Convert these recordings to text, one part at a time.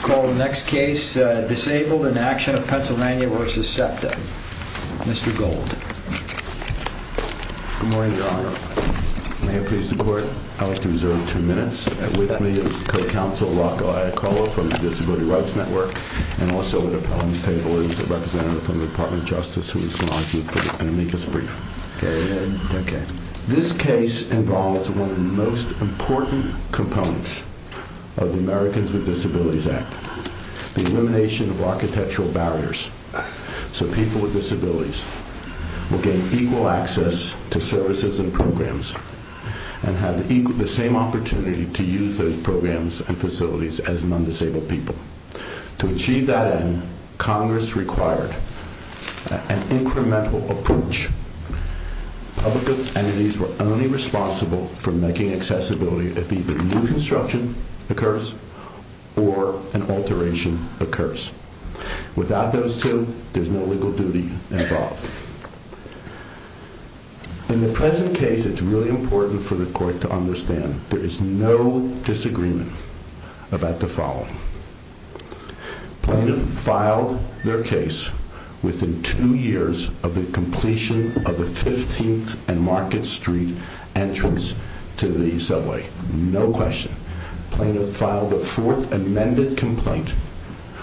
Disabledinactionof PA v SEPTA Mr. Gold Good morning, Your Honor. May it please the Court, I would like to reserve two minutes. With me is Co-Counsel Rocco Iacollo from the Disability Rights Network and also at the podium table is a representative from the Department of Justice who is acknowledging for an amicus brief. Go ahead. This case involves one of the most important components of the Americans with Disabilities Act, the elimination of architectural barriers so people with disabilities will gain equal access to services and programs and have the same opportunity to use those programs and facilities as non-disabled people. To achieve that end, Congress required an incremental approach Public entities were only responsible for making accessibility if either new construction occurs or an alteration occurs. Without those two, there's no legal duty involved. In the present case, it's really important for the Court to understand there is no disagreement about the following. Plaintiff filed their case within two years of the completion of the 15th and Market Street entrance to the subway. No question. Plaintiff filed a fourth amended complaint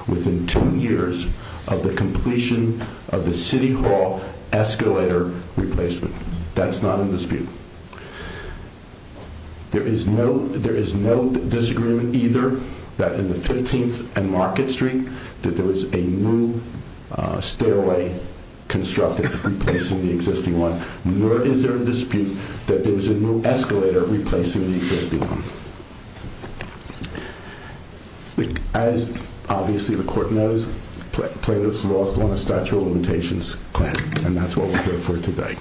within two years of the completion of the City Hall escalator replacement. That's not in dispute. There is no disagreement either that in the 15th and Market Street that there was a new stairway constructed replacing the existing one nor is there a dispute that there was a new escalator replacing the existing one. As obviously the Court knows, Plaintiff's lost on a statute of limitations claim and that's what we're here for today.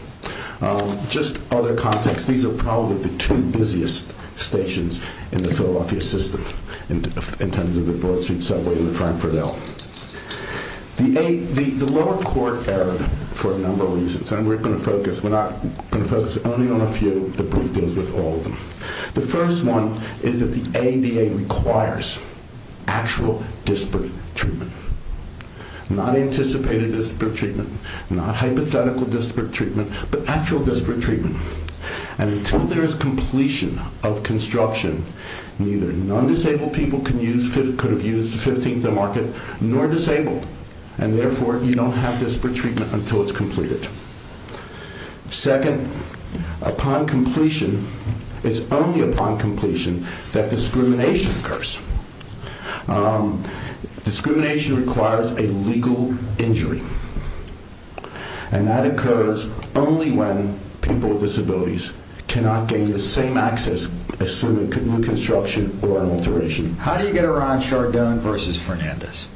Just other context. These are probably the two busiest stations in the Philadelphia system in terms of the Broad Street subway and the Frankfort L. The lower court error for a number of reasons and we're not going to focus only on a few. The brief deals with all of them. The first one is that the ADA requires actual disparate treatment. Not anticipated disparate treatment. Not hypothetical disparate treatment. But actual disparate treatment. And until there is completion of construction neither non-disabled people could have used the 15th and Market nor disabled. And therefore you don't have disparate treatment until it's completed. Second, upon completion it's only upon completion that discrimination occurs. Discrimination requires a legal injury. And that occurs only when people with disabilities cannot gain the same access assuming reconstruction or an alteration. How do you get around Chardon versus Fernandez?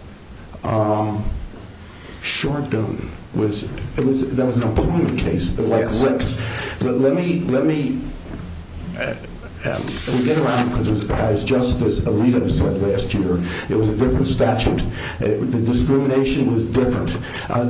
Chardon was... That was an opponent case. Yes. Let me... We get around because as Justice Alito said last year it was a different statute. The discrimination was different.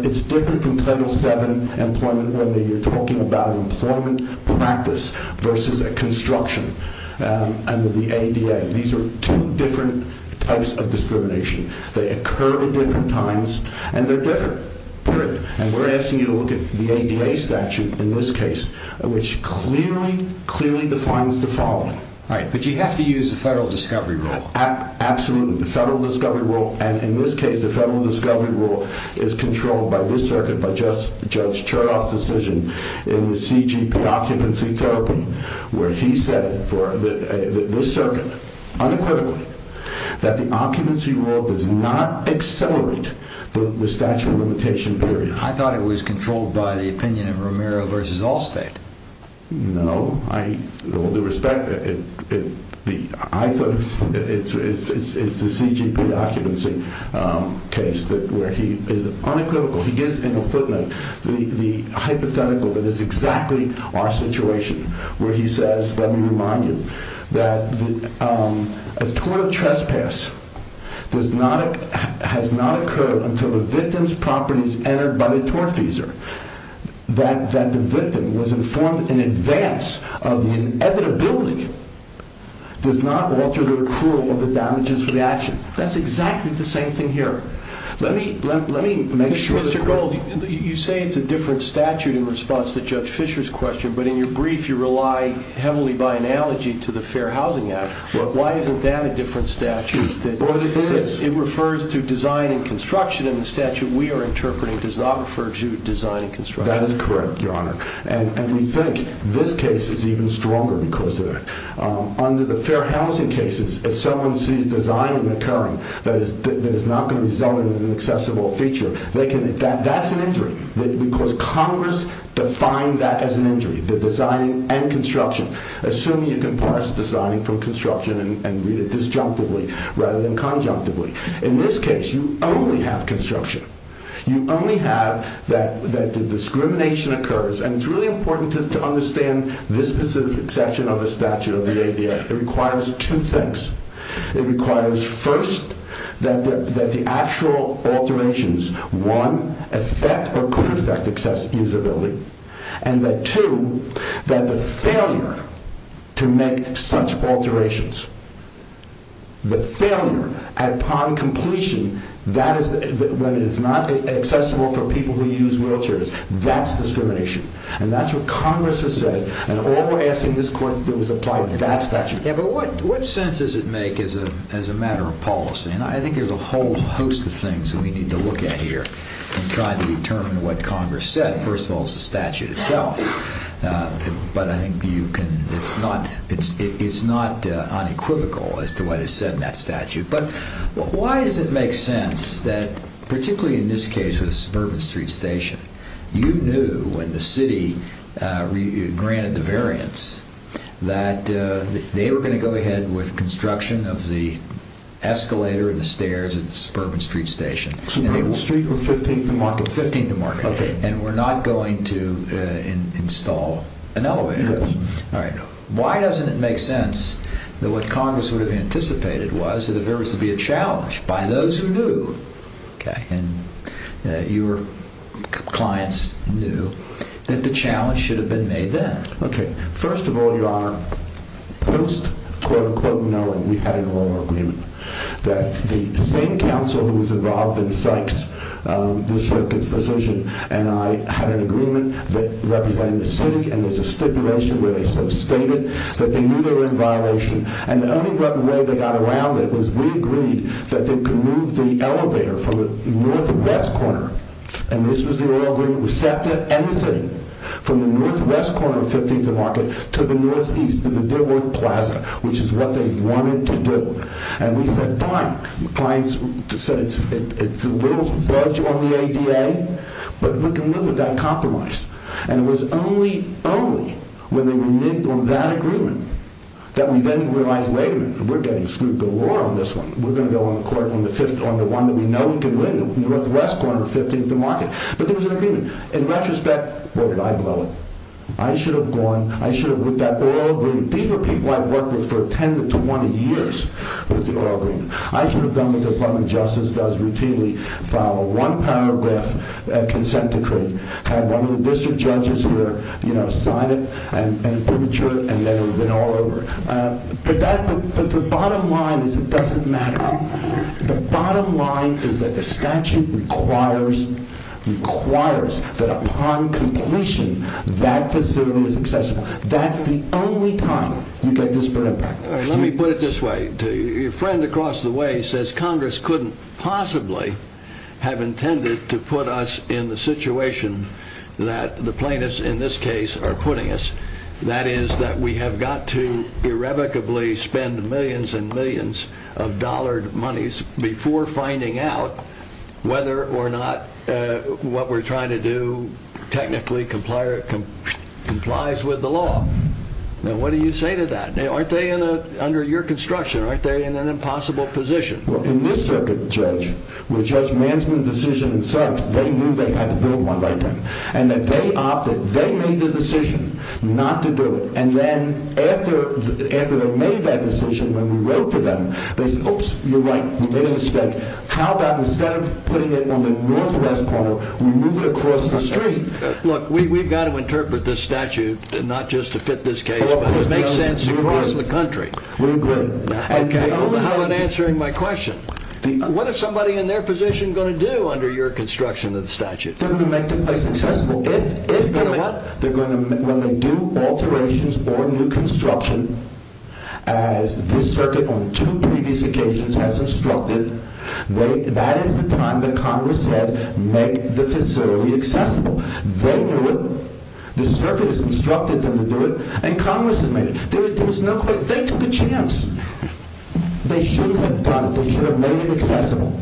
It's different from Title VII employment when you're talking about employment practice versus a construction under the ADA. These are two different types of discrimination. They occur at different times and they're different. Period. And we're asking you to look at the ADA statute in this case which clearly, clearly defines the following. But you have to use a federal discovery rule. Absolutely. The federal discovery rule and in this case the federal discovery rule is controlled by this circuit by Judge Cherdoff's decision in the CGP occupancy therapy where he said for this circuit unequivocally that the occupancy rule does not accelerate the statute of limitation period. I thought it was controlled by the opinion of Romero versus Allstate. No. With all due respect, I thought it's the CGP occupancy case where he is unequivocal. He gives in a footnote the hypothetical that is exactly our situation where he says, let me remind you, that a tort of trespass has not occurred until the victim's property is entered by the tortfeasor that the victim was informed in advance of the inevitability does not alter the approval of the damages for the action. That's exactly the same thing here. Let me make sure... Mr. Gold, you say it's a different statute in response to Judge Fisher's question, but in your brief you rely heavily by analogy to the Fair Housing Act. Why isn't that a different statute? It refers to design and construction and in the statute we are interpreting does not refer to design and construction. That is correct, Your Honor. And we think this case is even stronger because under the Fair Housing cases, if someone sees design in the current that is not going to result in an accessible feature, that's an injury. Because Congress defined that as an injury, the design and construction. Assuming you can parse design from construction and read it disjunctively rather than conjunctively. In this case, you only have construction. You only have that the discrimination occurs and it's really important to understand this specific section of the statute of the ADA. It requires two things. It requires, first, that the actual alterations, one, affect or could affect accessibility and that, two, that the failure to make such alterations, the failure upon completion, when it is not accessible for people who use wheelchairs, that's discrimination. And that's what Congress has said and all we're asking this court to do is apply that statute. Yeah, but what sense does it make as a matter of policy? And I think there's a whole host of things that we need to look at here in trying to determine what Congress said. First of all, it's the statute itself. But I think it's not unequivocal as to what is said in that statute. But why does it make sense that, particularly in this case with Suburban Street Station, you knew when the city granted the variance that they were going to go ahead with construction of the escalator and the stairs at the Suburban Street Station. Suburban Street or 15th and Market? 15th and Market. And we're not going to install an elevator. Yes. Why doesn't it make sense that what Congress would have anticipated was that if there was to be a challenge by those who knew, and your clients knew, that the challenge should have been made then? Okay, first of all, Your Honor, most quote-unquote know that we had an oral agreement that the same counsel who was involved in Sykes, the Sykes decision, and I had an agreement that represented the city and there's a stipulation where they stated that they knew they were in violation. And the only way they got around it was we agreed that they could move the elevator from the northwest corner, and this was the oral agreement, with SEPTA and the city, from the northwest corner of 15th and Market to the northeast, to the Dilworth Plaza, which is what they wanted to do. And we said, fine. The clients said it's a little budge on the ADA, but we can live with that compromise. And it was only, only, when they reneged on that agreement that we then realized, wait a minute, we're getting screwed galore on this one. We're going to go on the court on the one that we know we can win, the northwest corner of 15th and Market. But there was an agreement. In retrospect, where did I blow it? I should have gone, I should have, with that oral agreement, these are people I've worked with for 10 to 20 years with the oral agreement. I should have done what the Department of Justice does routinely. File one paragraph consent decree, have one of the district judges here, you know, sign it, and premature it, and then it would have been all over. But the bottom line is it doesn't matter. The bottom line is that the statute requires, requires that upon completion, that facility is accessible. That's the only time you get disparate impact. Let me put it this way. Your friend across the way says Congress couldn't possibly have intended to put us in the situation that the plaintiffs in this case are putting us. That is that we have got to irrevocably spend millions and millions of dollared monies before finding out whether or not what we're trying to do technically complies with the law. Now, what do you say to that? Aren't they under your construction? Aren't they in an impossible position? Well, in this circuit, Judge, where Judge Manson's decision sucks, they knew they had to build one like that. And that they opted, they made the decision not to do it. And then after they made that decision, when we wrote for them, they said, oops, you're right, we made a mistake. How about instead of putting it on the northwest corner, we move it across the street? Look, we've got to interpret this statute not just to fit this case, but to make sense across the country. We agree. I don't know how I'm answering my question. What is somebody in their position going to do under your construction of the statute? They're going to make the place accessible. If they're going to what? When they do alterations or new construction, as this circuit on two previous occasions has instructed, that is the time that Congress said make the facility accessible. They knew it. This circuit has instructed them to do it. And Congress has made it. There was no question. They took a chance. They should have done it. They should have made it accessible.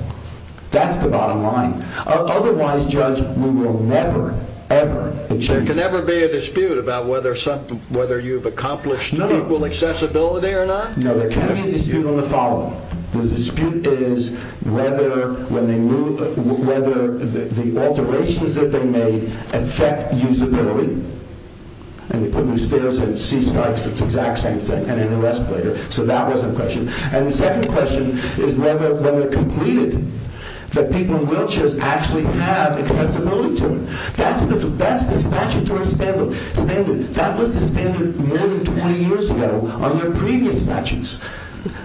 That's the bottom line. Otherwise, Judge, we will never, ever... There can never be a dispute about whether you've accomplished equal accessibility or not? No, there can be a dispute on the following. The dispute is whether when they move, whether the alterations that they made affect usability. And they put new stairs and see sights. It's the exact same thing. And an escalator. So that was a question. And the second question is whether when they're completed, that people in wheelchairs actually have accessibility to it. That's the statutory standard. That was the standard more than 20 years ago on their previous statutes.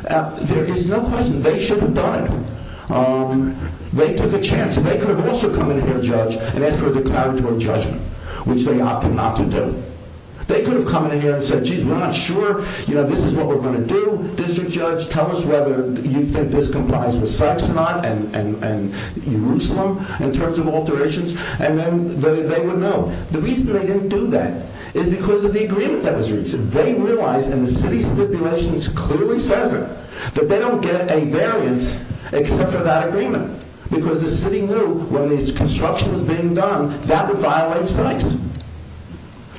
There is no question. They should have done it. They took a chance. They could have also come in here, Judge, and asked for a declaratory judgment, which they opted not to do. They could have come in here and said, geez, we're not sure. You know, this is what we're going to do. District Judge, tell us whether you think this complies with sex or not and Jerusalem, in terms of alterations. And then they would know. The reason they didn't do that is because of the agreement that was reached. They realized, and the city stipulations clearly says it, that they don't get a variance except for that agreement. Because the city knew when the construction was being done, that would violate sex.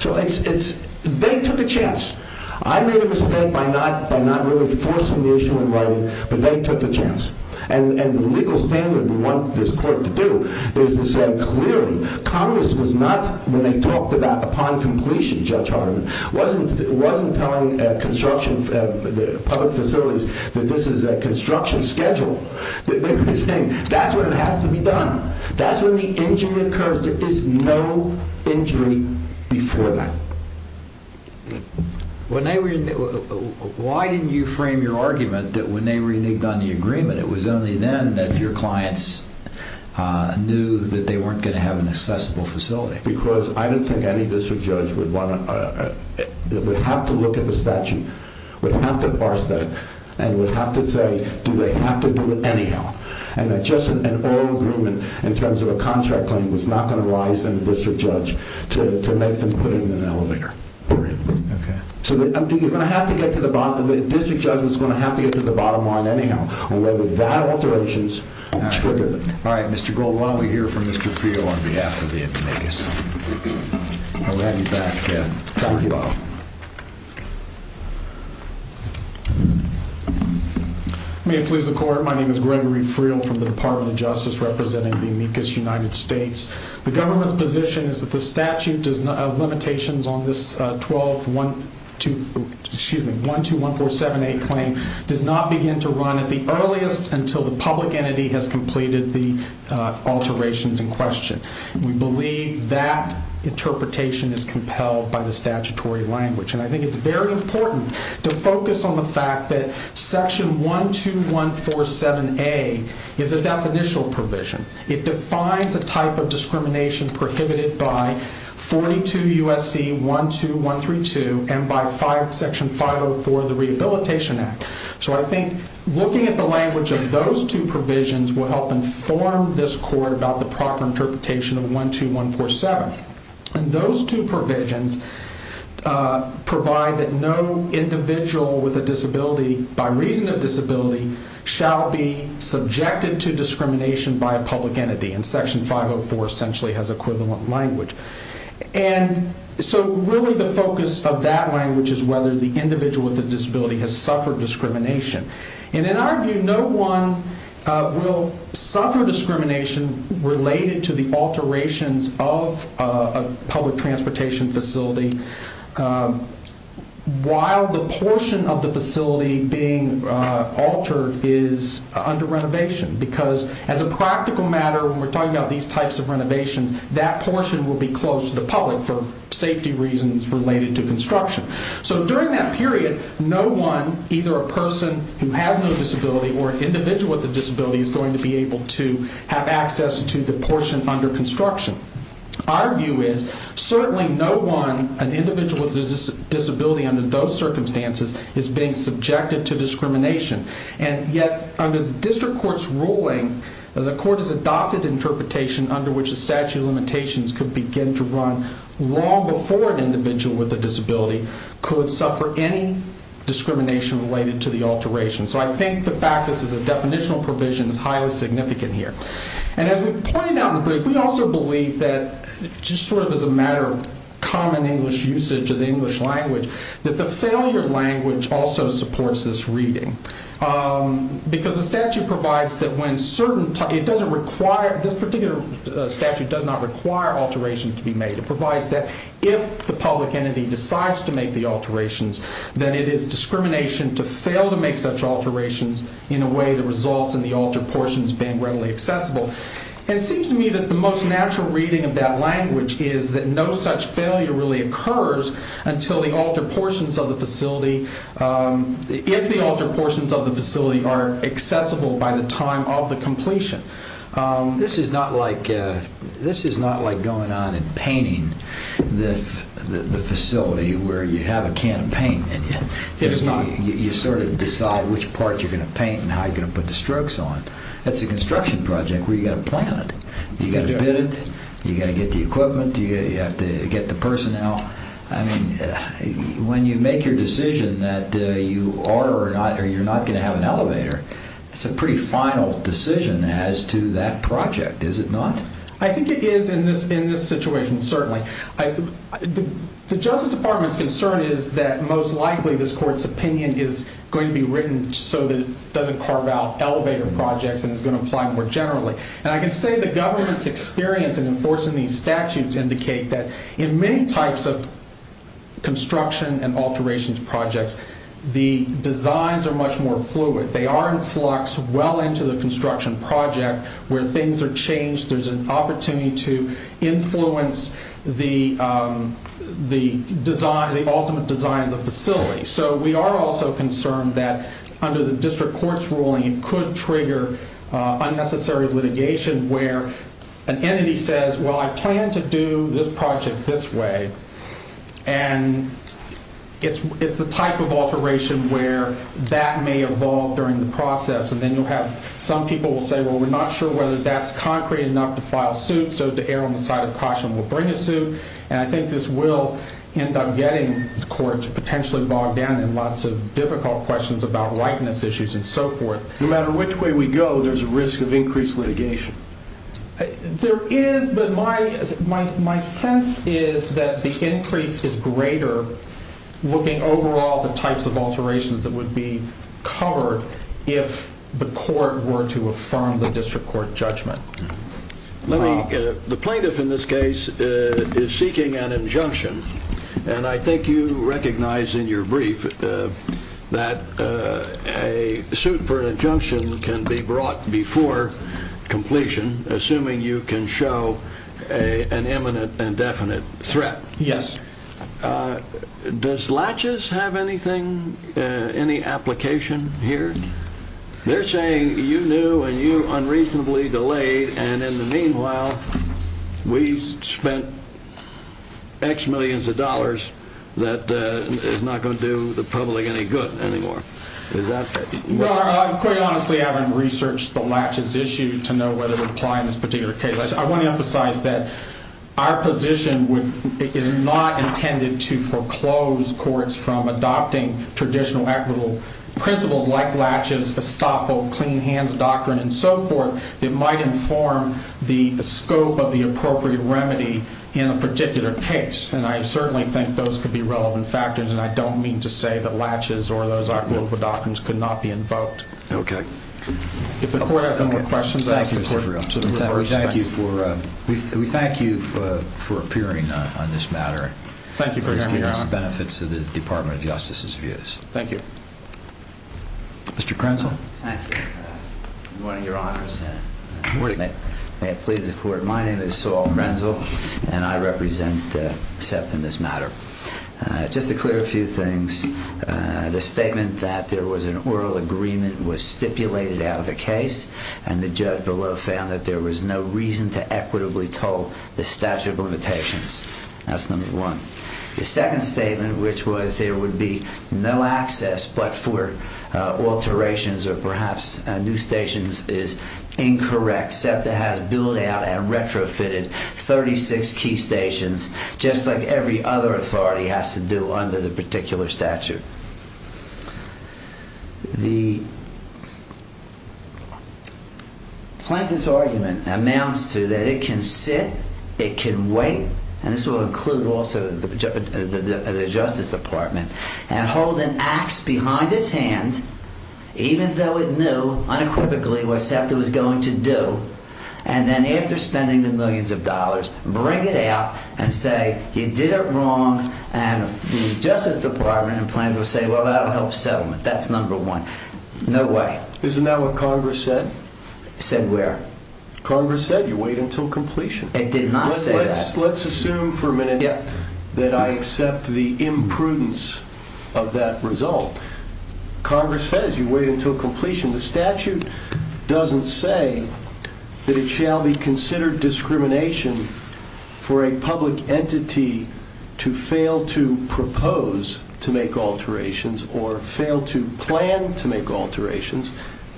So they took a chance. I made a mistake by not really forcing the issue in writing, but they took a chance. And the legal standard we want this court to do is to say, clearly, Congress was not, when they talked about upon completion, Judge Hardiman, wasn't telling construction, the public facilities, that this is a construction schedule. They were saying, that's when it has to be done. That's when the injury occurs. There is no injury before that. Why didn't you frame your argument that when they reneged on the agreement, it was only then that your clients knew that they weren't going to have an accessible facility? Because I didn't think any district judge would have to look at the statute, would have to parse that, and would have to say, do they have to do it anyhow? And that just an oral agreement in terms of a contract claim was not going to arise in the district judge to make them put it in an elevator. Period. So you're going to have to get to the bottom, the district judge was going to have to get to the bottom line anyhow, whether that alterations triggered it. All right, Mr. Gold, why don't we hear from Mr. Friel on behalf of the amicus. I'll hand you back, Kev. Thank you, Bob. May it please the court, my name is Gregory Friel from the Department of Justice representing the amicus United States. The government's position is that the statute of limitations on this 12-1-2-1-4-7-A claim does not begin to run at the earliest until the public entity has completed the alterations in question. We believe that interpretation is compelled by the statutory language. And I think it's very important to focus on the fact that section 12-1-4-7-A is a definitional provision. It defines a type of discrimination prohibited by 42 U.S.C. 12-1-3-2 and by section 504 of the Rehabilitation Act. So I think looking at the language of those two provisions will help inform this court about the proper interpretation of 12-1-4-7. And those two provisions provide that no individual with a disability, by reason of disability, shall be subjected to discrimination by a public entity. And section 504 essentially has equivalent language. And so really the focus of that language is whether the individual with a disability has suffered discrimination. And in our view, no one will suffer discrimination related to the alterations of a public transportation facility while the portion of the facility being altered is under renovation. Because as a practical matter, when we're talking about these types of renovations, that portion will be closed to the public for safety reasons related to construction. So during that period, no one, either a person who has no disability or an individual with a disability, is going to be able to have access to the portion under construction. Our view is certainly no one, an individual with a disability under those circumstances, is being subjected to discrimination. And yet, under the district court's ruling, the court has adopted interpretation under which a statute of limitations could begin to run long before an individual with a disability could suffer any discrimination related to the alteration. So I think the fact this is a definitional provision is highly significant here. And as we pointed out in the brief, we also believe that, just sort of as a matter of common English usage of the English language, that the failure language also supports this reading. Because the statute provides that when certain... It doesn't require... This particular statute does not require alterations to be made. It provides that if the public entity decides to make the alterations, then it is discrimination to fail to make such alterations in a way that results in the altered portions being readily accessible. And it seems to me that the most natural reading of that language is that no such failure really occurs until the altered portions of the facility... If the altered portions of the facility are accessible by the time of the completion. This is not like going on and painting the facility where you have a can of paint. It is not? You sort of decide which part you're going to paint and how you're going to put the strokes on. That's a construction project where you've got to plan it. You've got to bid it. You've got to get the equipment. You have to get the personnel. I mean, when you make your decision that you are or are not going to have an elevator, it's a pretty final decision as to that project, is it not? I think it is in this situation, certainly. The Justice Department's concern is that most likely this court's opinion is going to be written so that it doesn't carve out elevator projects and is going to apply more generally. And I can say the government's experience in enforcing these statutes indicate that in many types of construction and alterations projects, the designs are much more fluid. They are in flux well into the construction project where things are changed. There's an opportunity to influence the ultimate design of the facility. So we are also concerned that under the district court's ruling, it could trigger unnecessary litigation where an entity says, well, I plan to do this project this way. And it's the type of alteration where that may evolve during the process. And then you'll have some people will say, well, we're not sure whether that's concrete enough to file suit. So to err on the side of caution, we'll bring a suit. And I think this will end up getting courts potentially bogged down in lots of difficult questions about likeness issues and so forth. No matter which way we go, there's a risk of increased litigation. There is, but my sense is that the increase is greater looking overall at the types of alterations that would be covered if the court were to affirm the district court judgment. The plaintiff in this case is seeking an injunction. And I think you recognize in your brief that a suit for an injunction can be brought before completion, assuming you can show an imminent and definite threat. Yes. Does laches have anything, any application here? They're saying you knew and you unreasonably delayed. And in the meanwhile, we spent X millions of dollars that is not going to do the public any good anymore. No, I quite honestly haven't researched the laches issue to know whether to apply in this particular case. I want to emphasize that our position is not intended to foreclose courts from adopting traditional equitable principles like laches, estoppel, clean hands doctrine and so forth that might inform the scope of the appropriate remedy in a particular case. And I certainly think those could be relevant factors and I don't mean to say that laches or those equitable doctrines could not be invoked. Okay. If the court has no more questions... Thank you, Mr. Freeland. We thank you for appearing on this matter. Thank you for your honor. It's the benefits of the Department of Justice's views. Thank you. Mr. Krenzel. Thank you. Good morning, your honors. Good morning. May it please the court. My name is Saul Krenzel and I represent SEPT in this matter. Just to clear a few things. The statement that there was an oral agreement was stipulated out of the case and the judge below found that there was no reason to equitably toll the statute of limitations. That's number one. The second statement which was there would be no access but for alterations or perhaps new stations is incorrect. SEPTA has billed out and retrofitted 36 key stations just like every other authority has to do under the particular statute. The plaintiff's argument amounts to that it can sit, it can wait, and this will include also the Justice Department, and hold an axe behind its hand even though it knew unequivocally what SEPTA was going to do and then after spending the millions of dollars bring it out and say you did it wrong and the Justice Department and plaintiffs will say well that will help settlement. That's number one. No way. Isn't that what Congress said? Said where? Congress said you wait until completion. It did not say that. Let's assume for a minute that I accept the imprudence of that result. Congress says you wait until completion. The statute doesn't say that it shall be considered discrimination for a public entity to fail to propose to make alterations or fail to plan to make alterations.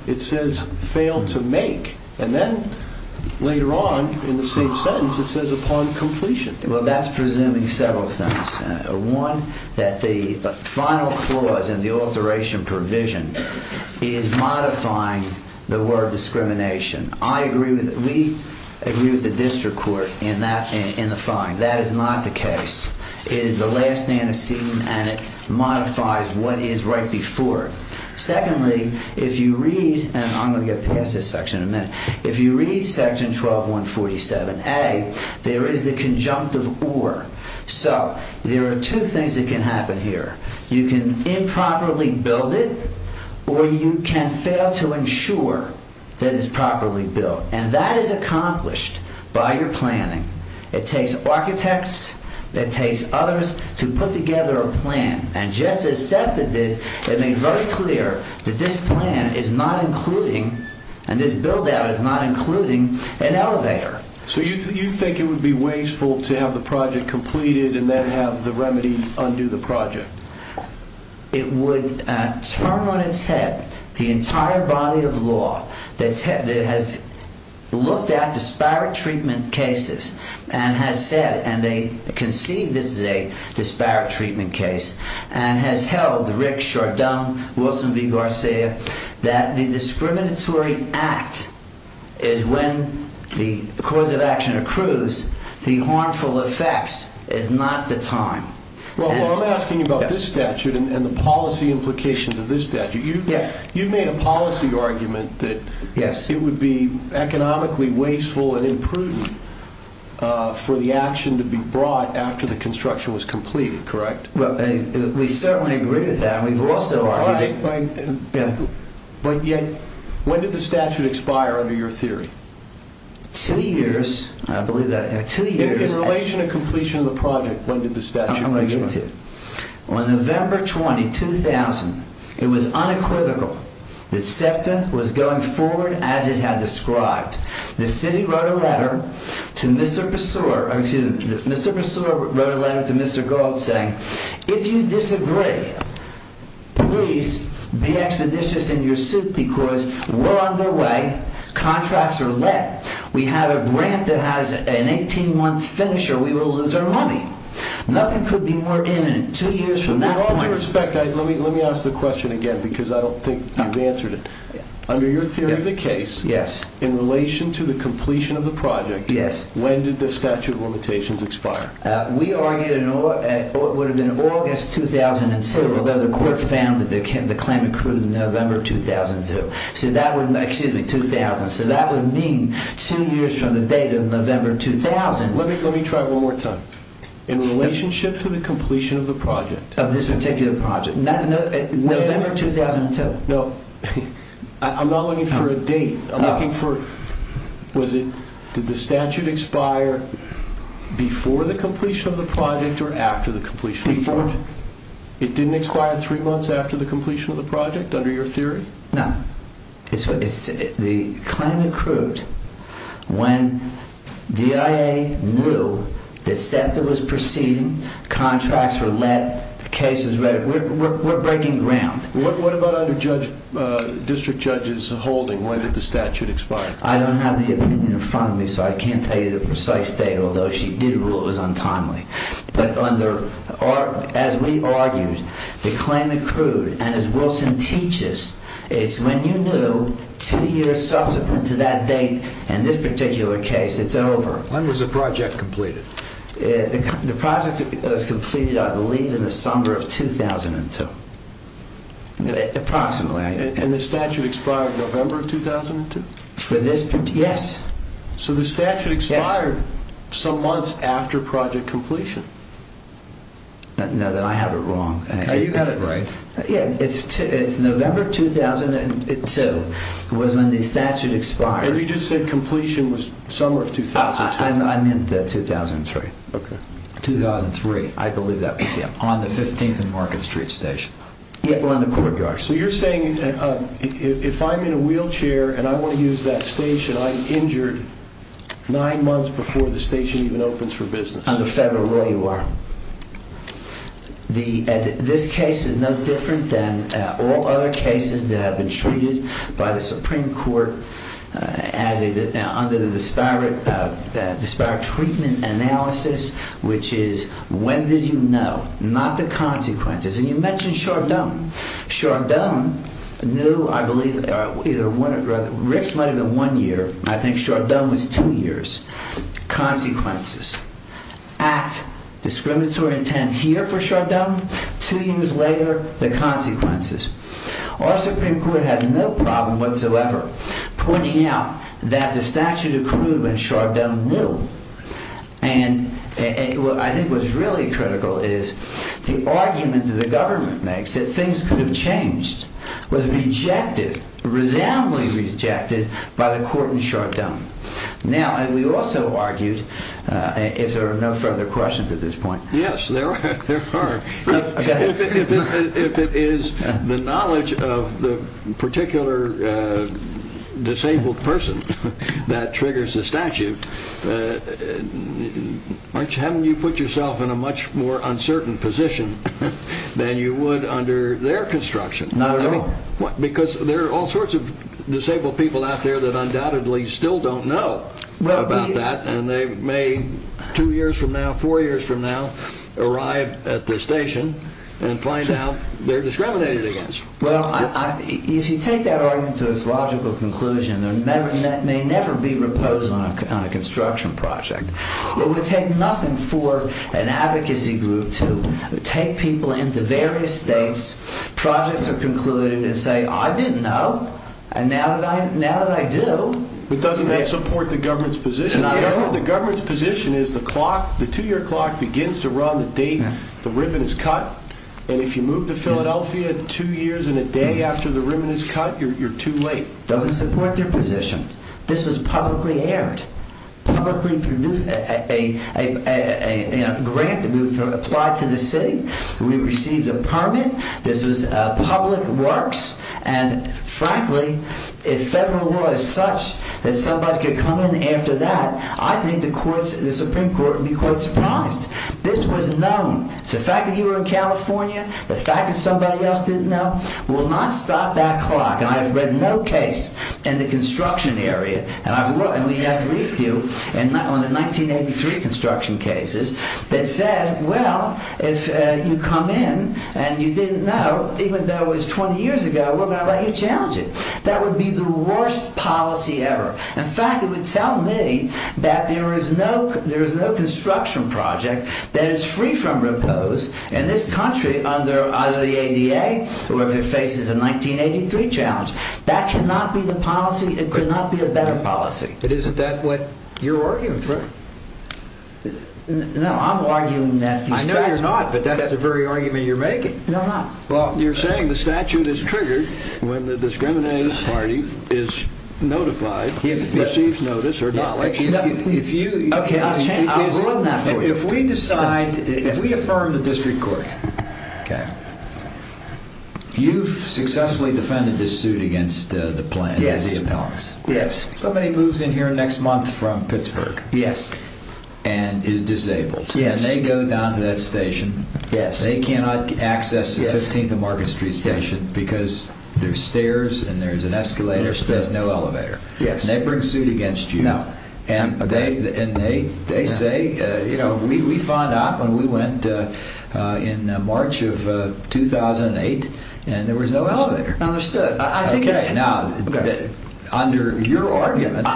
It says fail to make and then later on in the same sentence it says upon completion. Well that's presuming several things. One, that the final clause in the alteration provision is modifying the word discrimination. I agree with it. We agree with the district court in the fine. That is not the case. It is the last stand of seeing and it modifies what is right before. Secondly, if you read and I'm going to get past this section in a minute. If you read section 12-147A there is the conjunctive or. So there are two things that can happen here. You can improperly build it or you can fail to ensure that it's properly built and that is accomplished by your planning. It takes architects. It takes others to put together a plan and just as SEPTA did, it made very clear that this plan is not including and this build-out is not including an elevator. So you think it would be wasteful to have the project completed and then have the remedy undo the project? It would turn on its head the entire body of law that has looked at disparate treatment cases and has said and they can see this is a disparate treatment case and has held Rick, Chardin, Wilson v. Garcia that the discriminatory act is when the cause of action accrues the harmful effects is not the time. Well, I'm asking about this statute and the policy implications of this statute. You've made a policy argument that it would be economically wasteful and imprudent for the action to be brought after the construction was completed, correct? We certainly agree with that. We've also argued... When did the statute expire under your theory? Two years. In relation to completion of the project, when did the statute expire? On November 20, 2000, it was unequivocal that SEPTA was going forward as it had described. The city wrote a letter to Mr. Pessoir or excuse me, Mr. Pessoir wrote a letter to Mr. Gold saying if you disagree, please be expeditious in your suit because we're on the way, contracts are lit, we have a grant that has an 18-month finisher, we will lose our money. Nothing could be more imminent. Two years from that point... With all due respect, let me ask the question again because I don't think you've answered it. Under your theory of the case, in relation to the completion of the project, when did the statute of limitations expire? We argued it would have been August 2007 although the court found that the claim accrued in November 2002. Excuse me, 2000. So that would mean two years from the date of November 2000. Let me try one more time. In relationship to the completion of the project... Of this particular project. November 2002? No. I'm not looking for a date. I'm looking for... Did the statute expire before the completion of the project or after the completion of the project? Before. It didn't expire three months after the completion of the project, under your theory? No. The claim accrued when DIA knew that SEPTA was proceeding, contracts were lit, the case was read, we're breaking ground. What about under District Judge's holding, when did the statute expire? I don't have the opinion in front of me so I can't tell you the precise date, although she did rule it was untimely. But as we argued, the claim accrued, and as Wilson teaches, it's when you knew two years subsequent to that date in this particular case, it's over. When was the project completed? The project was completed, I believe, in the summer of 2002. Approximately. And the statute expired November 2002? Yes. So the statute expired some months after project completion? No, then I have it wrong. No, you've got it right. It's November 2002 was when the statute expired. But you just said completion was summer of 2002. I meant 2003. Okay. 2003, I believe that was it, on the 15th and Market Street station. Yeah. Or in the courtyard. So you're saying if I'm in a wheelchair and I want to use that station, I'm injured nine months before the station even opens for business? Under federal law, you are. This case is no different than all other cases that have been treated by the Supreme Court under the disparate treatment analysis, which is, when did you know? Not the consequences. And you mentioned Chardon. Chardon knew, I believe, Rick's letter in one year, I think Chardon was two years. Consequences. Act, discriminatory intent here for Chardon, two years later, the consequences. Our Supreme Court had no problem whatsoever pointing out that the statute accrued when Chardon knew. And I think what's really critical is the argument that the government makes that things could have changed was rejected, resoundingly rejected, by the court in Chardon. Now, we also argued, if there are no further questions at this point. Yes, there are. If it is the knowledge of the particular disabled person that triggers the statute, haven't you put yourself in a much more uncertain position than you would under their construction? Not at all. Because there are all sorts of disabled people out there that undoubtedly still don't know about that, and they may, two years from now, four years from now, arrive at the station and find out they're discriminated against. Well, if you take that argument to its logical conclusion, there may never be repose on a construction project. It would take nothing for an advocacy group to take people into various states, projects are concluded, and say, I didn't know, and now that I do... But doesn't that support the government's position? The government's position is the two-year clock begins to run the date the ribbon is cut, and if you move to Philadelphia two years and a day after the ribbon is cut, you're too late. Doesn't support their position. This was publicly aired, publicly produced, a grant that we applied to the city. We received a permit. This was public works, and frankly, if federal law is such that somebody could come in after that, I think the Supreme Court would be quite surprised. This was known. The fact that you were in California, the fact that somebody else didn't know, will not stop that clock. And I have read no case in the construction area, and we have briefed you on the 1983 construction cases, that said, well, if you come in, and you didn't know, even though it was 20 years ago, we're going to let you challenge it. That would be the worst policy ever. In fact, it would tell me that there is no construction project that is free from riposte in this country under either the ADA, or if it faces a 1983 challenge. That cannot be the policy. It could not be a better policy. But isn't that what you're arguing for? No, I'm arguing that the statute... I know you're not, but that's the very argument you're making. No, I'm not. You're saying the statute is triggered when the discriminating party is notified, receives notice, or not. If you... Okay, I'll run that for you. If we decide, if we affirm the district court, you've successfully defended this suit against the plan, the impelments. Yes. Somebody moves in here next month from Pittsburgh. Yes. And is disabled. Yes. And they go down to that station. Yes. They cannot access the 15th and Market Street station because there's stairs, and there's an escalator, so there's no elevator. Yes. And they bring suit against you. No. And they say, you know, we found out when we went in March of 2008, and there was no elevator. Understood. Now, under your argument,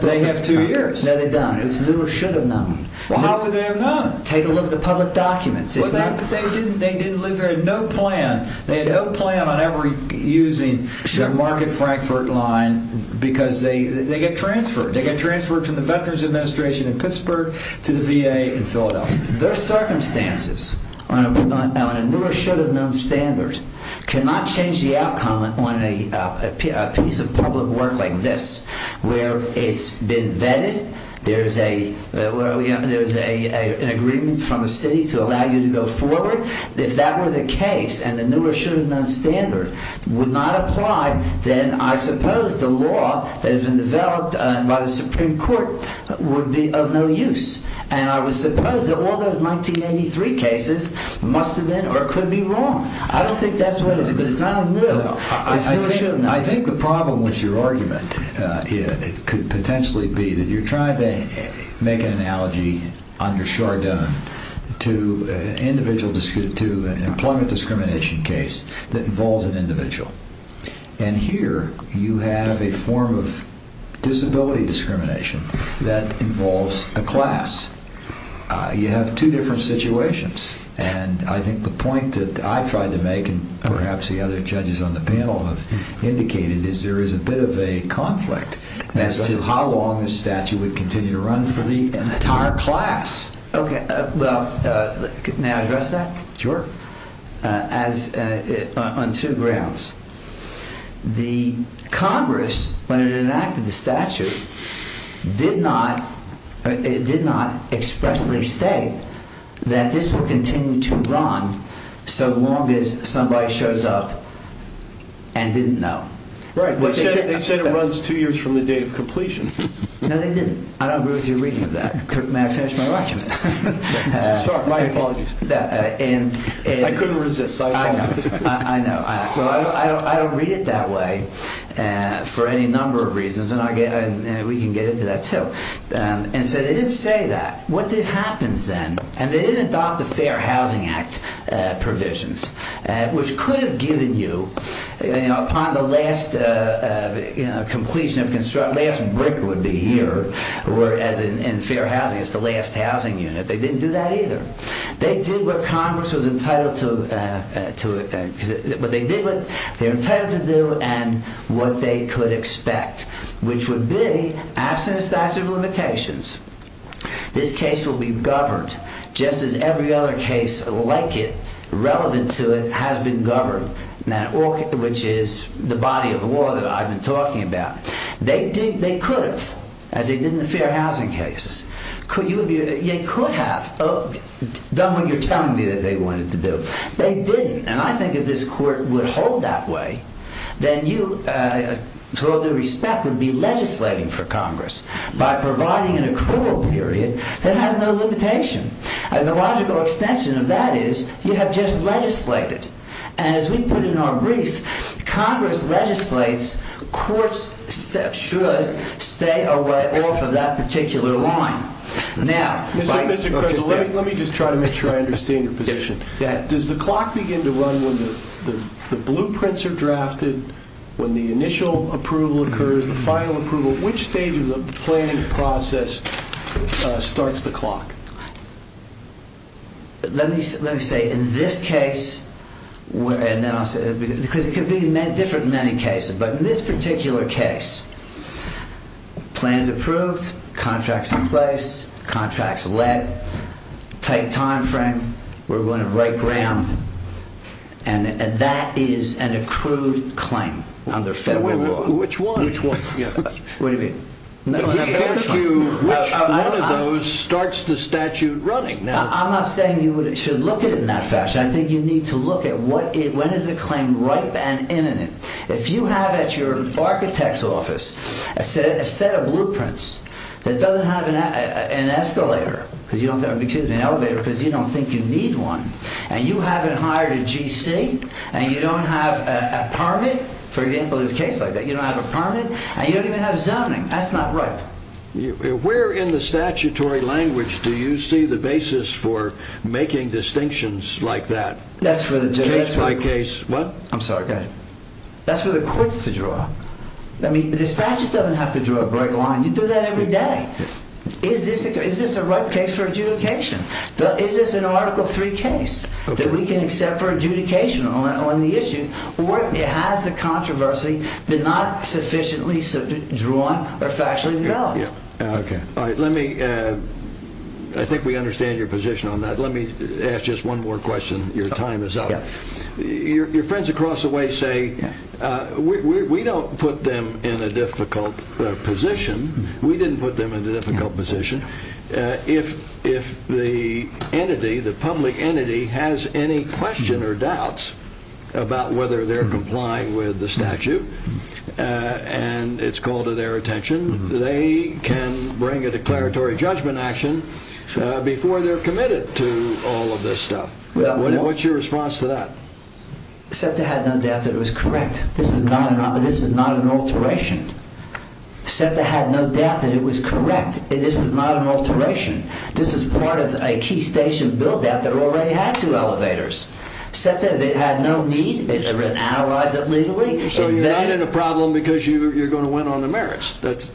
they have two years. No, they don't. It was knew or should have known. Well, how could they have known? Take a look at the public documents. They didn't live there, they had no plan. They had no plan on ever using the Market-Frankfurt line because they get transferred. They get transferred from the Veterans Administration in Pittsburgh to the VA in Philadelphia. Their circumstances on a knew or should have known standard cannot change the outcome on a piece of public work like this where it's been vetted there's an agreement from the city to allow you to go forward. If that were the case and the knew or should have known standard would not apply, then I suppose the law that has been developed by the Supreme Court would be of no use. And I would suppose that all those 1983 cases must have been or could be wrong. I don't think that's what it is. It's not a new. I think the problem with your argument could potentially be that you're trying to make an analogy under Chardon to an employment discrimination case that involves an individual. And here you have a form of disability discrimination that involves a class. You have two different situations. And I think the point that I tried to make and perhaps the other judges on the panel have indicated is there is a bit of a conflict as to how long this statute would continue to run for the entire class. Okay. May I address that? Sure. On two grounds. The Congress when it enacted the statute did not expressly state that this will continue to run so long as somebody shows up and didn't know. Right. They said it runs two years from the date of completion. No, they didn't. I don't agree with your reading of that. May I finish my argument? Sorry. My apologies. I couldn't resist. I apologize. I know. I don't read it that way for any number of reasons. And we can get into that too. And so they didn't say that. What happens then? And they didn't adopt the Fair Housing Act provisions which could have given you upon the last completion of construction the last brick would be here whereas in Fair Housing it's the last housing unit. They didn't do that either. They did what Congress was entitled to they did what they were entitled to do and what they could expect which would be absent statute of limitations this case will be governed just as every other case like it relevant to it has been governed which is the body of the law that I've been talking about they could have as they did in the Fair Housing cases they could have done what you're telling me that they wanted to do they didn't and I think if this court would hold that way then you with all due respect would be legislating for Congress by providing an accrual period that has no limitation and the logical extension of that is you have just legislated and as we put in our brief Congress legislates courts should stay away off of that particular line now Mr. Creswell let me just try to make sure I understand your position does the clock begin to run when the blueprints are drafted when the initial approval occurs the final approval which stage of the planning process starts the clock? let me say in this case and then I'll say because it could be different in many cases but in this particular case plans approved contracts in place contracts led tight time frame we're going to break ground and that is an accrued claim under federal law which one? what do you mean? which one of those starts the statute running? I'm not saying you should look at it in that fashion I think you need to look at when is the claim ripe and imminent if you have at your architect's office a set of blueprints that doesn't have an escalator because you don't think you need one and you haven't hired a GC and you don't have a permit for example in a case like that you don't have a permit and you don't even have zoning that's not ripe where in the statutory language do you see the basis for making distinctions like that case by case what? I'm sorry that's for the courts to draw the statute doesn't have to draw a bright line you do that every day is this a ripe case for adjudication? is this an article 3 case that we can accept for adjudication on the issue or has the controversy been not sufficiently drawn or factually developed? I think we understand your position on that let me ask just one more question your time is up your friends across the way say we don't put them in a difficult position we didn't put them in a difficult position if the public entity has any questions or doubts about whether they're complying with the statute and it's called to their attention they can bring a declaratory judgment action before they're committed to all of this stuff what's your response to that? SEPTA had no doubt that it was correct this was not an alteration SEPTA had no doubt that it was correct this was not an alteration this was part of a key station build out that already had two elevators SEPTA had no need to analyze it legally so you're not in a problem because you're going to win on the merits that's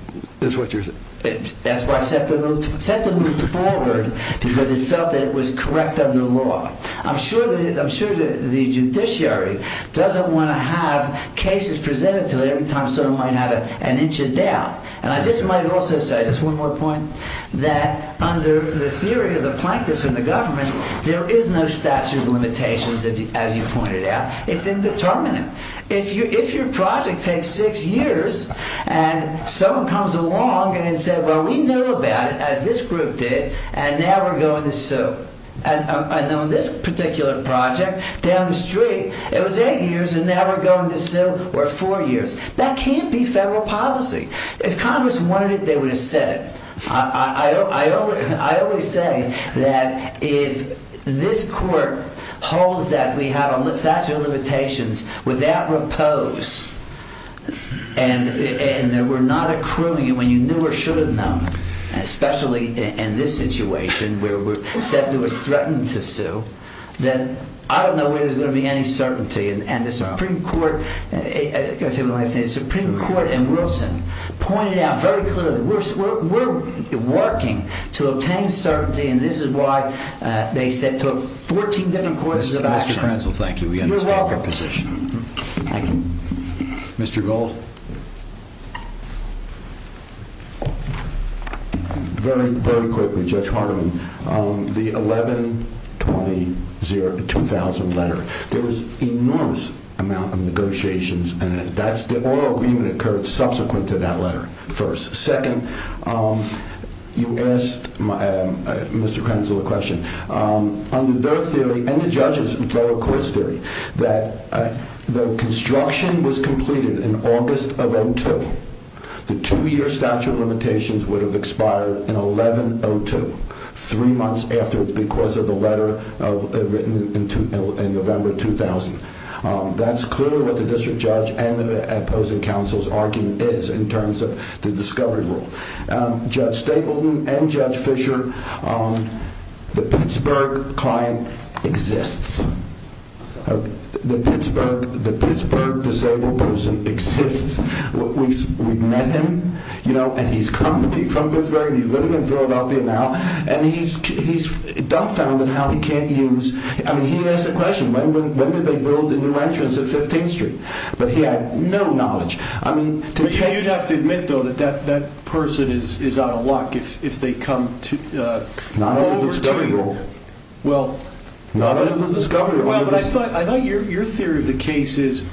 what you're saying? that's why SEPTA moved forward because it felt it was correct under law I'm sure the judiciary doesn't want to have cases presented to it every time SEPTA might have it an inch and down and I just might also say just one more point that under the theory of the plaintiffs and the government there is no statute of limitations as you pointed out it's indeterminate if your project takes six years and someone comes along and says well we know about it as this group did and now we're going to sue and on this particular project down the street it was eight years and now we're going to sue for four years that can't be federal policy if congress wanted it they would have said it I always say that if this court holds that we have a statute of limitations without repose and we're not accruing it when you knew or should have known especially in this situation where SEPTA was threatened to sue then I don't know where there's going to be any certainty and the supreme court and Wilson pointed out very clearly we're working to obtain certainty and this is why they took 14 different courses of action Mr. Prenzel, thank you we understand your position Thank you Mr. Gold Very quickly, Judge Hardeman the 11-20-2000 letter there was enormous amount of negotiations and the oral agreement occurred subsequent to that letter first second you asked Mr. Prenzel a question under their theory and the judge's federal court's theory that the construction was completed in August of 2002 the two-year statute of limitations would have expired in 11-02 three months afterwards because of the letter written in November 2000 that's clearly what the district judge and the opposing counsel's argument is in terms of the discovery rule Judge Stapleton and Judge Fisher the Pittsburgh client exists the Pittsburgh disabled person exists we've met him and he's come from Pittsburgh he's living in Philadelphia now and he's dumbfounded how he can't use he asked a question when did they build the new entrance at 15th street but he had no knowledge you'd have to admit though that that person is out of luck if they come over to you not under the discovery rule I thought your theory of the case is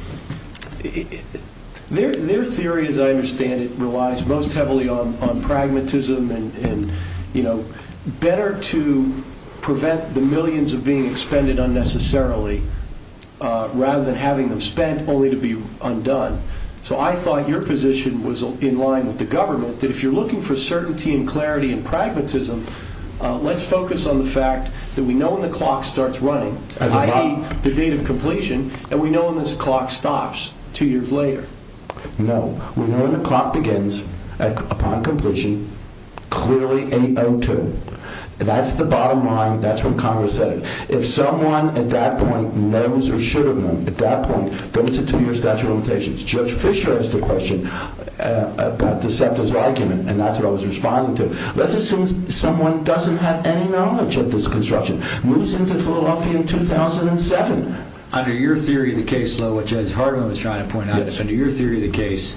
their theory as I understand it relies most heavily on pragmatism better to prevent the millions of being expended unnecessarily rather than having them spent only to be undone so I thought your position was in line with the government and clarity and pragmatism let's focus on the fact that we know when the clock starts running i.e. the date of completion and we know when this clock stops two years later no we know when the clock begins upon completion clearly 8.02 that's the bottom line that's when congress said it if someone at that point knows or should have known at that point then it's a two year statute of limitations Judge Fisher asked a question about Deceptive's argument and that's what I was responding to let's assume someone doesn't have any knowledge of this construction moves into Philadelphia in 2007 under your theory of the case Judge Harden was trying to point out under your theory of the case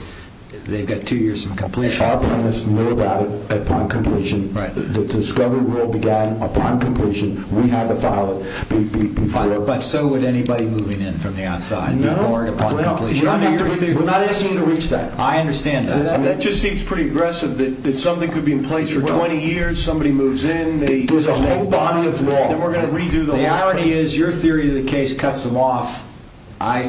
they've got two years from completion our plaintiffs knew about it upon completion the discovery rule began upon completion we had to file it but so would anybody moving in from the outside be warned upon completion we're not asking you to reach that I understand that that just seems pretty aggressive that something could be in place for 20 years somebody moves in there's a whole body of law then we're going to redo the law the irony is your theory of the case cuts them off I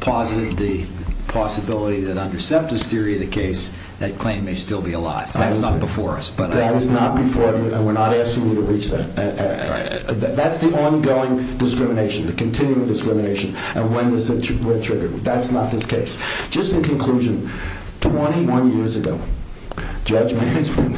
posit the possibility that under Septa's theory of the case that claim may still be alive that's not before us that is not before us and we're not asking you to reach that that's the ongoing discrimination the continuing discrimination and when is it triggered that's not this case just in conclusion 21 years ago Judge Mansman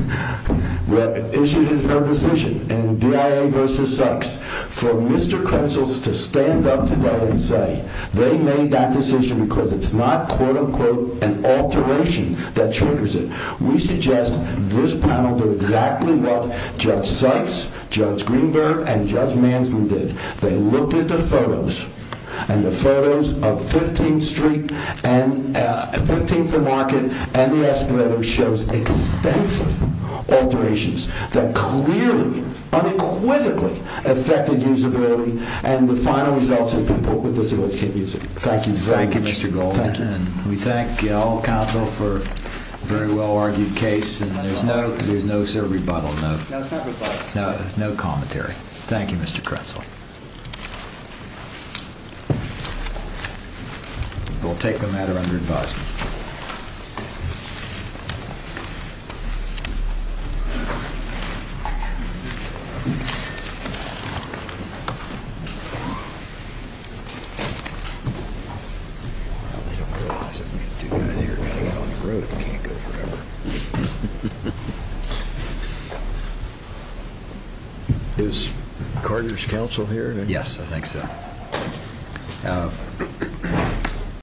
issued his own decision in D.I.A. vs. Sykes for Mr. Kretzels to stand up together and say they made that decision because it's not quote unquote an alteration that triggers it we suggest this panel do exactly what Judge Sykes Judge Greenberg and Judge Mansman did they looked at the photos and the photos of 15th Street and 15th and Market and less than ever shows extensive alterations that clearly unequivocally affected usability and the final results of people with disabilities can't use it thank you very much thank you Mr. Goldman and we thank you all counsel for a very well argued case and there's no there's no sir rebuttal no no commentary thank you Mr. Kretzels we'll take the matter under advisement thank you is Carter's counsel here yes I think so